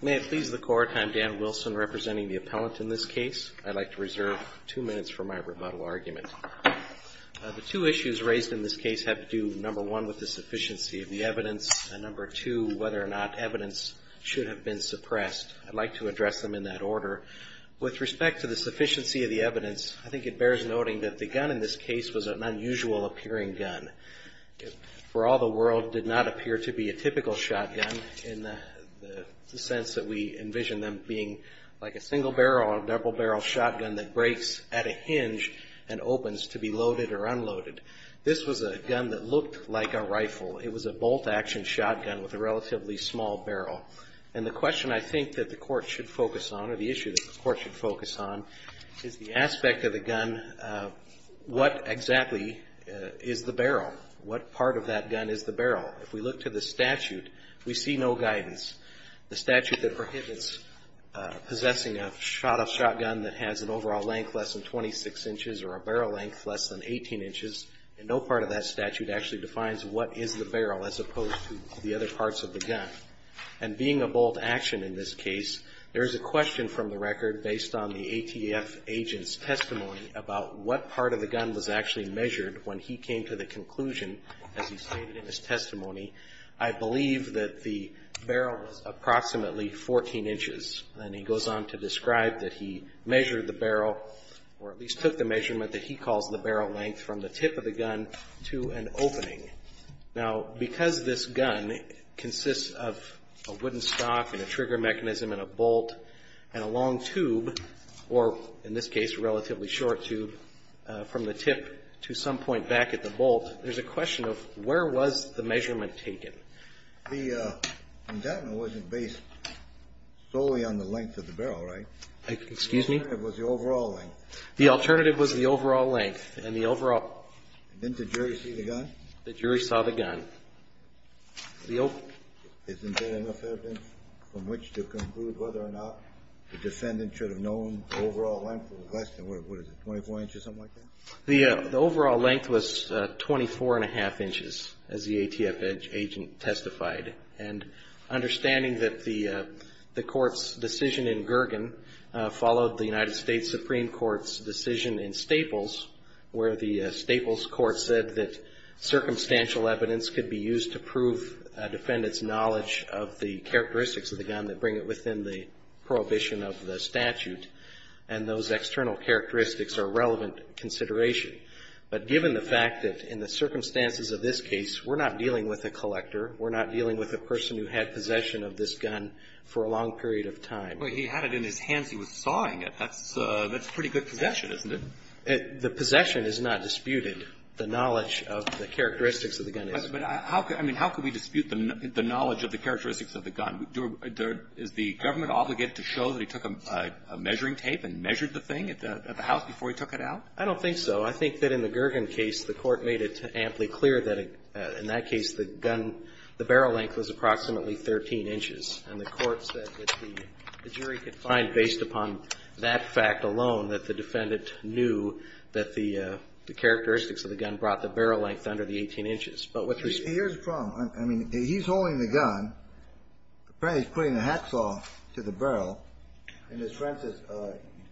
May it please the Court, I'm Dan Wilson representing the appellant in this case. I'd like to reserve two minutes for my rebuttal argument. The two issues raised in this case have to do, number one, with the sufficiency of the evidence, and number two, whether or not evidence should have been suppressed. I'd like to address them in that order. With respect to the sufficiency of the evidence, I think it bears noting that the gun in this case was an unusual appearing gun. For all the world, did not appear to be a typical shotgun in the sense that we envision them being like a single barrel or a double barrel shotgun that breaks at a hinge and opens to be loaded or unloaded. This was a gun that looked like a rifle. It was a bolt action shotgun with a relatively small barrel. And the question I think that the Court should focus on, or the issue that the Court should focus on, is the aspect of the gun, what exactly is the barrel? What part of that gun is the barrel? If we look to the statute, we see no guidance. The statute that prohibits possessing a shot-off shotgun that has an overall length less than 26 inches or a barrel length less than 18 inches, no part of that statute actually defines what is the barrel as opposed to the other parts of the gun. And being a bolt action in this case, there is a question from the record based on the ATF agent's testimony about what part of the gun was actually measured when he came to the conclusion, as he stated in his testimony, I believe that the barrel was approximately 14 inches. And he goes on to describe that he measured the barrel, or at least took the measurement that he calls the barrel length from the tip of the gun to an opening. Now, because this gun consists of a wooden stock and a trigger mechanism and a bolt and a long tube, or in this case a relatively short tube, from the tip to some point back at the bolt, there's a question of where was the measurement taken? The indictment wasn't based solely on the length of the barrel, right? Excuse me? The alternative was the overall length. The alternative was the overall length. And the overall – Didn't the jury see the gun? The jury saw the gun. Isn't there enough evidence from which to conclude whether or not the defendant should have known the overall length was less than, what is it, 24 inches, something like that? The overall length was 24-and-a-half inches, as the ATF agent testified. And understanding that the Court's decision in Gergen followed the United States Supreme Court's decision in Staples, where the Staples court said that circumstantial evidence could be used to prove a defendant's knowledge of the characteristics of the gun that bring it within the prohibition of the statute, and those external characteristics are relevant consideration. But given the fact that in the circumstances of this case, we're not dealing with a collector. We're not dealing with a person who had possession of this gun for a long period of time. But he had it in his hands. He was sawing it. That's pretty good possession, isn't it? The possession is not disputed. The knowledge of the characteristics of the gun is. of the gun? Is the government obligated to show that he took a measuring tape and measured the thing at the house before he took it out? I don't think so. I think that in the Gergen case, the Court made it amply clear that in that case, the gun, the barrel length was approximately 13 inches. And the Court said that the jury could find, based upon that fact alone, that the defendant knew that the characteristics of the gun brought the barrel length under the 18 inches. But with respect to the statute, I don't think so. Apparently, he's putting the hacksaw to the barrel, and his friend says,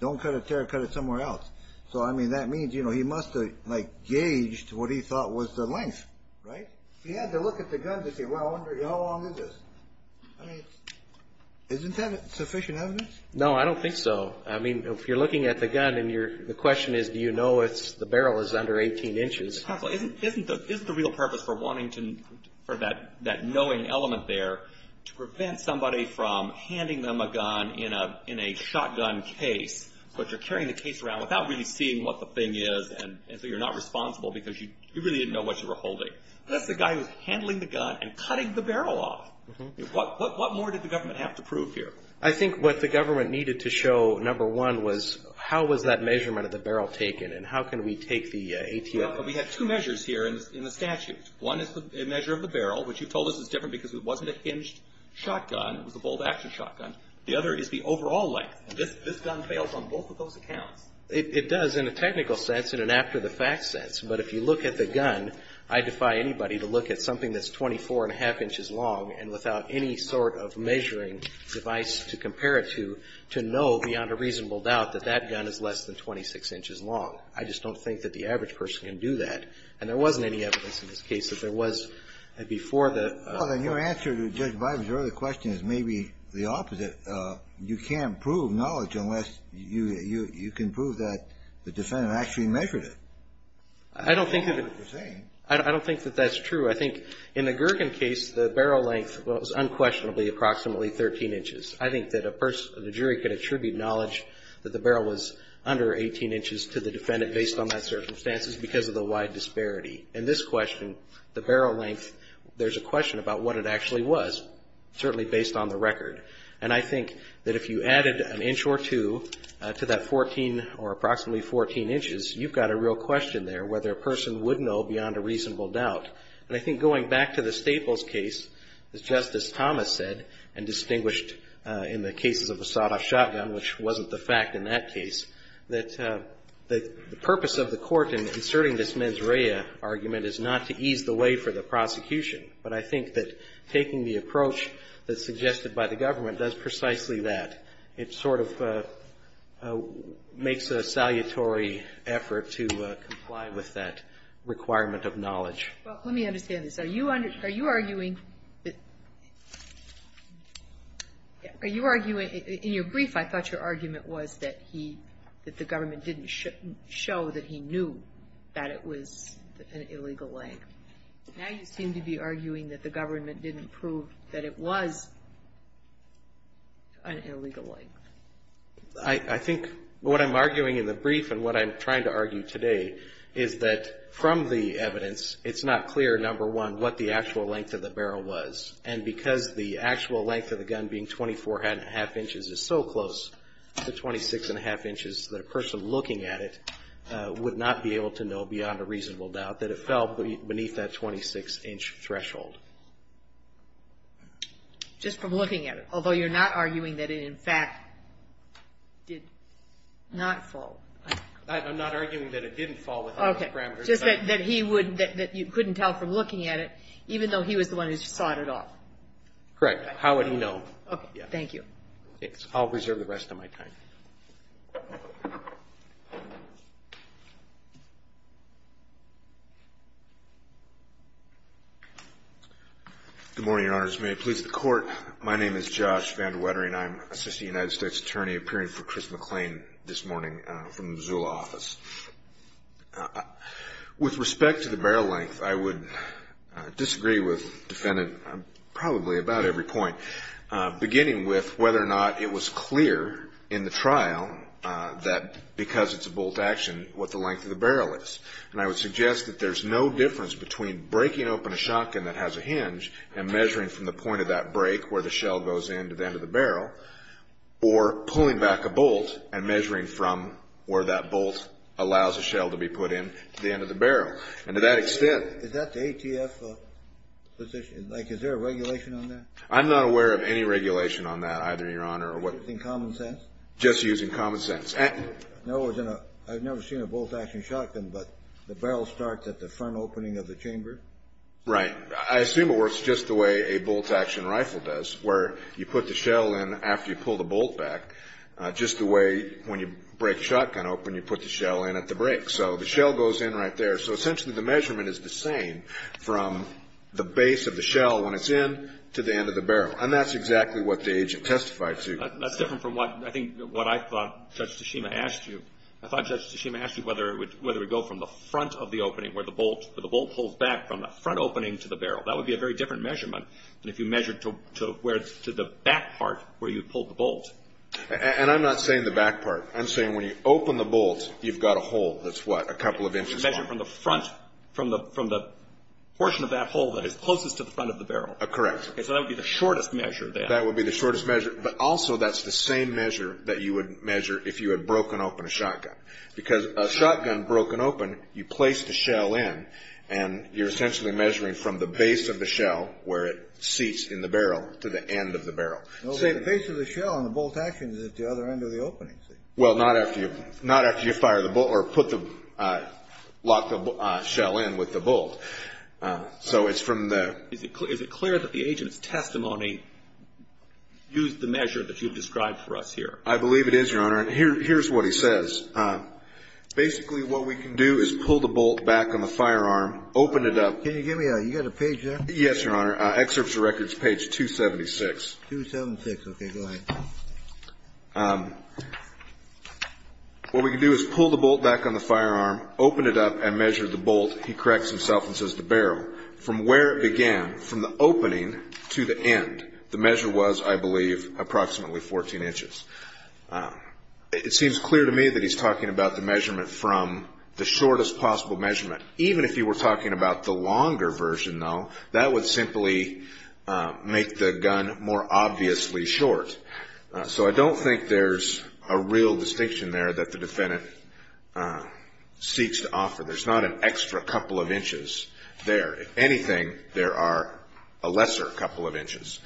don't cut it there, cut it somewhere else. So, I mean, that means, you know, he must have, like, gauged what he thought was the length, right? He had to look at the gun to see, well, how long is this? I mean, isn't that sufficient evidence? No, I don't think so. I mean, if you're looking at the gun and the question is, do you know if the barrel is under 18 inches? Isn't the real purpose for wanting to, for that knowing element there, to prevent somebody from handing them a gun in a shotgun case, but you're carrying the case around without really seeing what the thing is, and so you're not responsible because you really didn't know what you were holding. That's the guy who's handling the gun and cutting the barrel off. What more did the government have to prove here? I think what the government needed to show, number one, was how was that measurement of the barrel taken, and how can we take the ATF... But we have two measures here in the statute. One is the measure of the barrel, which you told us is different because it wasn't a hinged shotgun. It was a bolt-action shotgun. The other is the overall length, and this gun fails on both of those accounts. It does in a technical sense and an after-the-fact sense, but if you look at the gun, I defy anybody to look at something that's 24 and a half inches long and without any sort of measuring device to compare it to, to know beyond a reasonable doubt that that gun is less than 26 inches long. I just don't think that the average person can do that, and there wasn't any evidence in this case that there was before the... Well, then your answer to Judge Bider's earlier question is maybe the opposite. You can't prove knowledge unless you can prove that the defendant actually measured it. I don't think that... That's not what you're saying. I don't think that that's true. I think in the Gergen case, the barrel length was unquestionably approximately 13 inches. I think that a person, the jury, could attribute knowledge that the barrel was under 18 inches to the defendant based on that circumstances because of the wide disparity. In this question, the barrel length, there's a question about what it actually was, certainly based on the record. And I think that if you added an inch or two to that 14 or approximately 14 inches, you've got a real question there whether a person would know beyond a reasonable doubt. And I think going back to the Staples case, as Justice Thomas said and that the purpose of the Court in inserting this mens rea argument is not to ease the way for the prosecution. But I think that taking the approach that's suggested by the government does precisely that. It sort of makes a salutary effort to comply with that requirement of knowledge. Well, let me understand this. Are you arguing that — are you arguing — in your brief, I thought your argument was that he — that the government didn't show that he knew that it was an illegal length. Now you seem to be arguing that the government didn't prove that it was an illegal length. I think what I'm arguing in the brief and what I'm trying to argue today is that from the evidence, it's not clear, number one, what the actual length of the barrel was. And because the actual length of the gun being 24 and a half inches is so close to 26 and a half inches that a person looking at it would not be able to know beyond a reasonable doubt that it fell beneath that 26-inch threshold. Just from looking at it, although you're not arguing that it, in fact, did not fall. I'm not arguing that it didn't fall within those parameters. Just that he wouldn't — that you couldn't tell from looking at it, even though he was the one who sought it out. Correct. How would he know? Okay. Thank you. I'll reserve the rest of my time. Good morning, Your Honors. May it please the Court. My name is Josh Van DeWettering. I'm Assistant United States Attorney appearing for Chris McClain this morning from the Missoula office. With respect to the barrel length, I would disagree with the defendant on probably about every point, beginning with whether or not it was clear in the trial that because it's a bolt action, what the length of the barrel is. And I would suggest that there's no difference between breaking open a shotgun that has a hinge and measuring from the point of that break where the shell goes in to the end of the barrel, or pulling back a bolt and measuring from where that bolt allows a shell to be put in to the end of the barrel. And to that extent — Is that the ATF position? Like, is there a regulation on that? I'm not aware of any regulation on that, either, Your Honor, or what — Using common sense? Just using common sense. No, I've never seen a bolt action shotgun, but the barrel starts at the front opening of the chamber? Right. I assume it works just the way a bolt action rifle does, where you put the shell in after you pull the bolt back, just the way when you break a shotgun open, you put the shell in at the break. So the shell goes in right there. So essentially, the measurement is the same from the base of the shell when it's in to the end of the barrel. And that's exactly what the agent testified to. That's different from what — I think what I thought Judge Tashima asked you. I thought Judge Tashima asked you whether it would go from the front of the opening where the bolt — where the bolt pulls back from the front opening to the barrel. That would be a very different measurement than if you measured to where it's — to the back part where you pulled the bolt. And I'm not saying the back part. I'm saying when you open the bolt, you've got a hole that's, what, a couple of inches wide? You measure from the front — from the portion of that hole that is closest to the front of the barrel. Correct. Okay, so that would be the shortest measure, then. That would be the shortest measure. But also, that's the same measure that you would measure if you had broken open a shotgun. Because a shotgun broken open, you place the shell in, and you're essentially measuring from the base of the shell, where it seats in the barrel, to the end of the barrel. No, but the base of the shell on the bolt action is at the other end of the opening, see? Well, not after you — not after you fire the bolt — or put the — lock the shell in with the bolt. So it's from the — Is it clear that the agent's testimony used the measure that you've described for us here? I believe it is, Your Honor. Yes, Your Honor. Here's what he says. Basically, what we can do is pull the bolt back on the firearm, open it up — Can you give me a — you got a page there? Yes, Your Honor. Excerpts of Records, page 276. 276. Okay, go ahead. What we can do is pull the bolt back on the firearm, open it up, and measure the bolt. He corrects himself and says the barrel. From where it began, from the opening to the end, the measure was, I believe, approximately 14 inches. It seems clear to me that he's talking about the measurement from the shortest possible measurement. Even if he were talking about the longer version, though, that would simply make the gun more obviously short. So I don't think there's a real distinction there that the defendant seeks to offer. There's not an extra couple of inches there. If anything, there are a lesser couple of inches.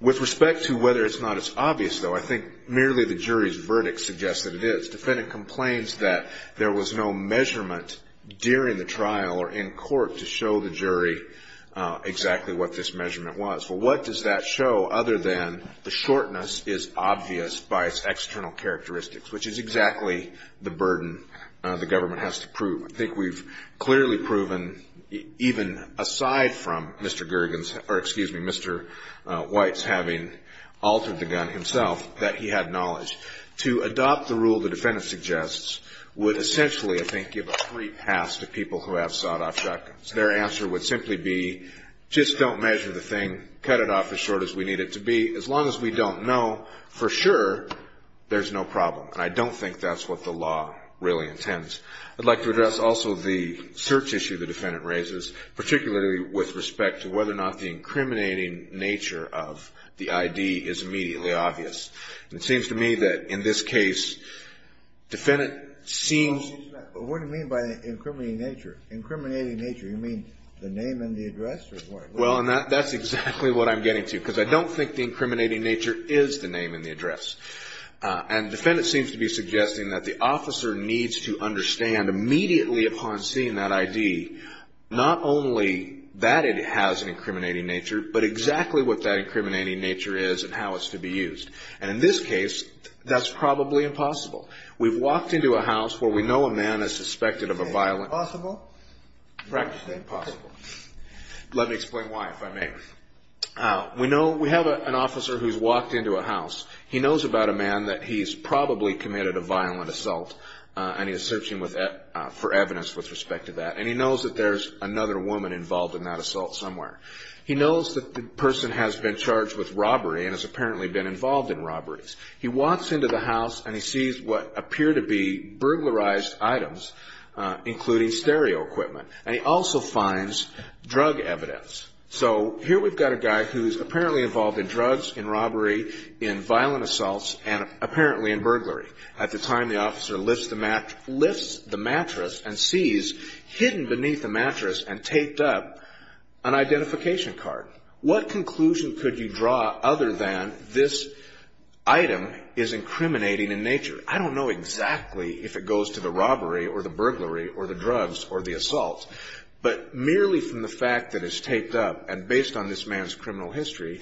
With respect to whether it's not as obvious, though, I think merely the jury's verdict suggests that it is. The defendant complains that there was no measurement during the trial or in court to show the jury exactly what this measurement was. Well, what does that show other than the shortness is obvious by its external characteristics, which is exactly the burden the government has to prove. I think we've clearly proven, even aside from Mr. Gergen's, or excuse me, Mr. White's having altered the gun himself, that he had knowledge. To adopt the rule the defendant suggests would essentially, I think, give a free pass to people who have sawed-off shotguns. Their answer would simply be, just don't measure the thing, cut it off as short as we need it to be. As long as we don't know for sure, there's no problem. And I don't think that's what the law really intends. I'd like to address also the search issue the defendant raises, particularly with respect to whether or not the incriminating nature of the ID is immediately obvious. And it seems to me that in this case, defendant seems to be... Well, what do you mean by incriminating nature? Incriminating nature, you mean the name and the address, or what? Well, and that's exactly what I'm getting to, because I don't think the incriminating nature is the name and the address. And the defendant seems to be suggesting that the officer needs to understand immediately upon seeing that ID, not only that it has an incriminating nature, but exactly what that incriminating nature is and how it's to be used. And in this case, that's probably impossible. We've walked into a house where we know a man is suspected of a violent... It's impossible? Practically impossible. Let me explain why, if I may. We know, we have an officer who's walked into a house. He knows about a man that he's probably committed a violent assault and he's searching for evidence with respect to that. And he knows that there's another woman involved in that assault somewhere. He knows that the person has been charged with robbery and has apparently been involved in robberies. He walks into the house and he sees what appear to be burglarized items, including stereo equipment. And he also finds drug evidence. So here we've got a guy who's apparently involved in drugs, in robbery, in violent assaults and apparently in burglary. At the time, the officer lifts the mattress and sees, hidden beneath the mattress and taped up, an identification card. What conclusion could you draw other than this item is incriminating in nature? I don't know exactly if it goes to the robbery or the burglary or the drugs or the assault. But merely from the fact that it's taped up and based on this man's criminal history,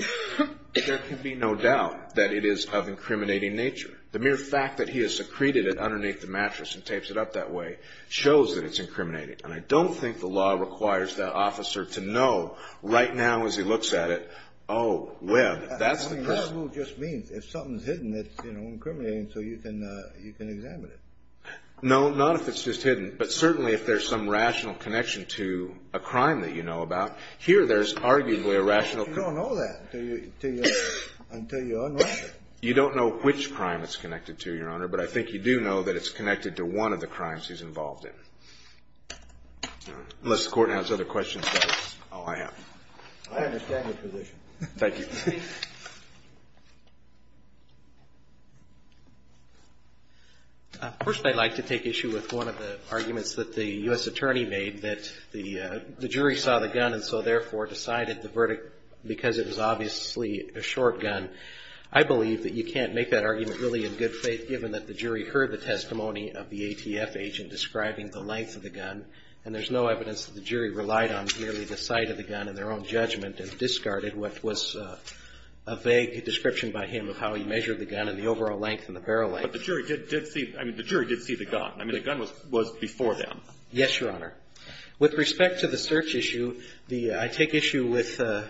there can be no doubt that it is of incriminating nature. The mere fact that he has secreted it underneath the mattress and tapes it up that way shows that it's incriminating. And I don't think the law requires that officer to know right now as he looks at it, oh, well, that's the person. I mean, that rule just means if something's hidden, it's, you know, incriminating so you can examine it. No, not if it's just hidden. But certainly if there's some rational connection to a crime that you know about, here there's arguably a rational connection. You don't know that until you unravel it. You don't know which crime it's connected to, Your Honor. But I think you do know that it's connected to one of the crimes he's involved in. Unless the Court has other questions, that is all I have. I understand your position. Thank you. First, I'd like to take issue with one of the arguments that the U.S. attorney made that the jury saw the gun and so therefore decided the verdict because it was obviously a short gun. I believe that you can't make that argument really in good faith given that the jury heard the testimony of the ATF agent describing the length of the gun and there's no evidence that the jury relied on merely the sight of the gun in their own judgment and discarded what was a vague description by him of how he measured the gun and the overall length and the barrel length. But the jury did see, I mean, the jury did see the gun. I mean, the gun was before them. Yes, Your Honor. With respect to the search issue, the, I take issue with Mr.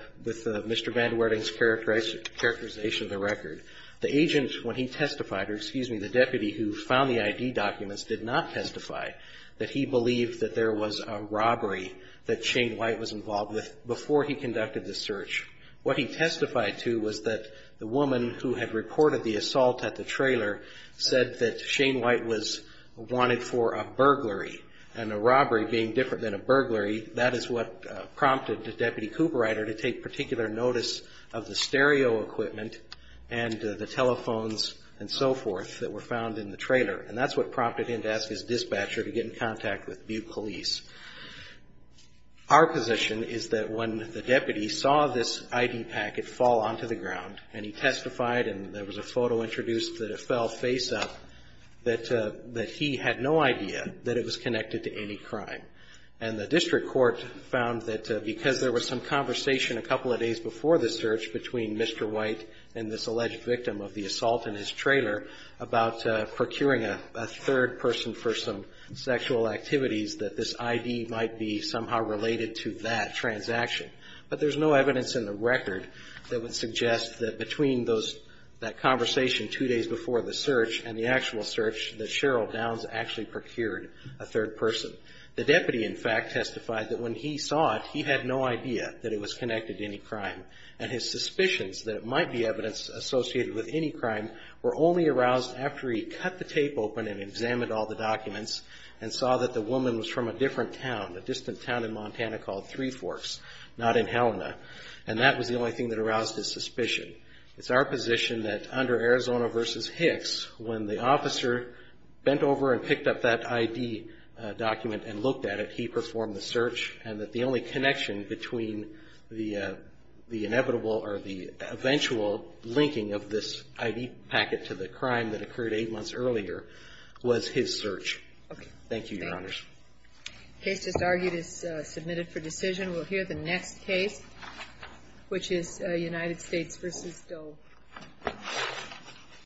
Vandwerding's characterization of the record. The agent, when he testified, or excuse me, the deputy who found the ID documents did not testify that he believed that there was a robbery that Shane White was involved with before he conducted the search. What he testified to was that the woman who had reported the assault at the trailer said that Shane White was wanted for a burglary and a robbery being different than a burglary, that is what prompted the deputy cooperator to take particular notice of the stereo equipment and the telephones and so forth that were found in the trailer and that's what prompted him to ask his dispatcher to get in contact with Butte Police. Our position is that when the deputy saw this ID packet fall onto the ground and he testified and there was a photo introduced that it fell face up, that he had no idea that it was connected to any crime. And the district court found that because there was some conversation a couple of days before the search between Mr. White and this alleged victim of the assault in his trailer about procuring a third person for some sexual activities that this ID might be somehow related to that transaction. But there's no evidence in the record that would suggest that between those, that conversation two days before the search and the actual search that Cheryl Downs actually procured a third person. The deputy, in fact, testified that when he saw it, he had no idea that it was connected to any crime and his suspicions that it might be evidence associated with any crime were only aroused after he cut the tape open and examined all the documents and saw that the woman was from a different town, a distant town in Montana called Three Forks, not in Helena. And that was the only thing that aroused his suspicion. It's our position that under Arizona versus Hicks, when the officer bent over and picked up that ID document and looked at it, he performed the search and that the only connection between the inevitable or the eventual linking of this ID packet to the crime that occurred eight months earlier was his search. Thank you, Your Honors. Case just argued is submitted for decision. We'll hear the next case, which is United States versus Dole.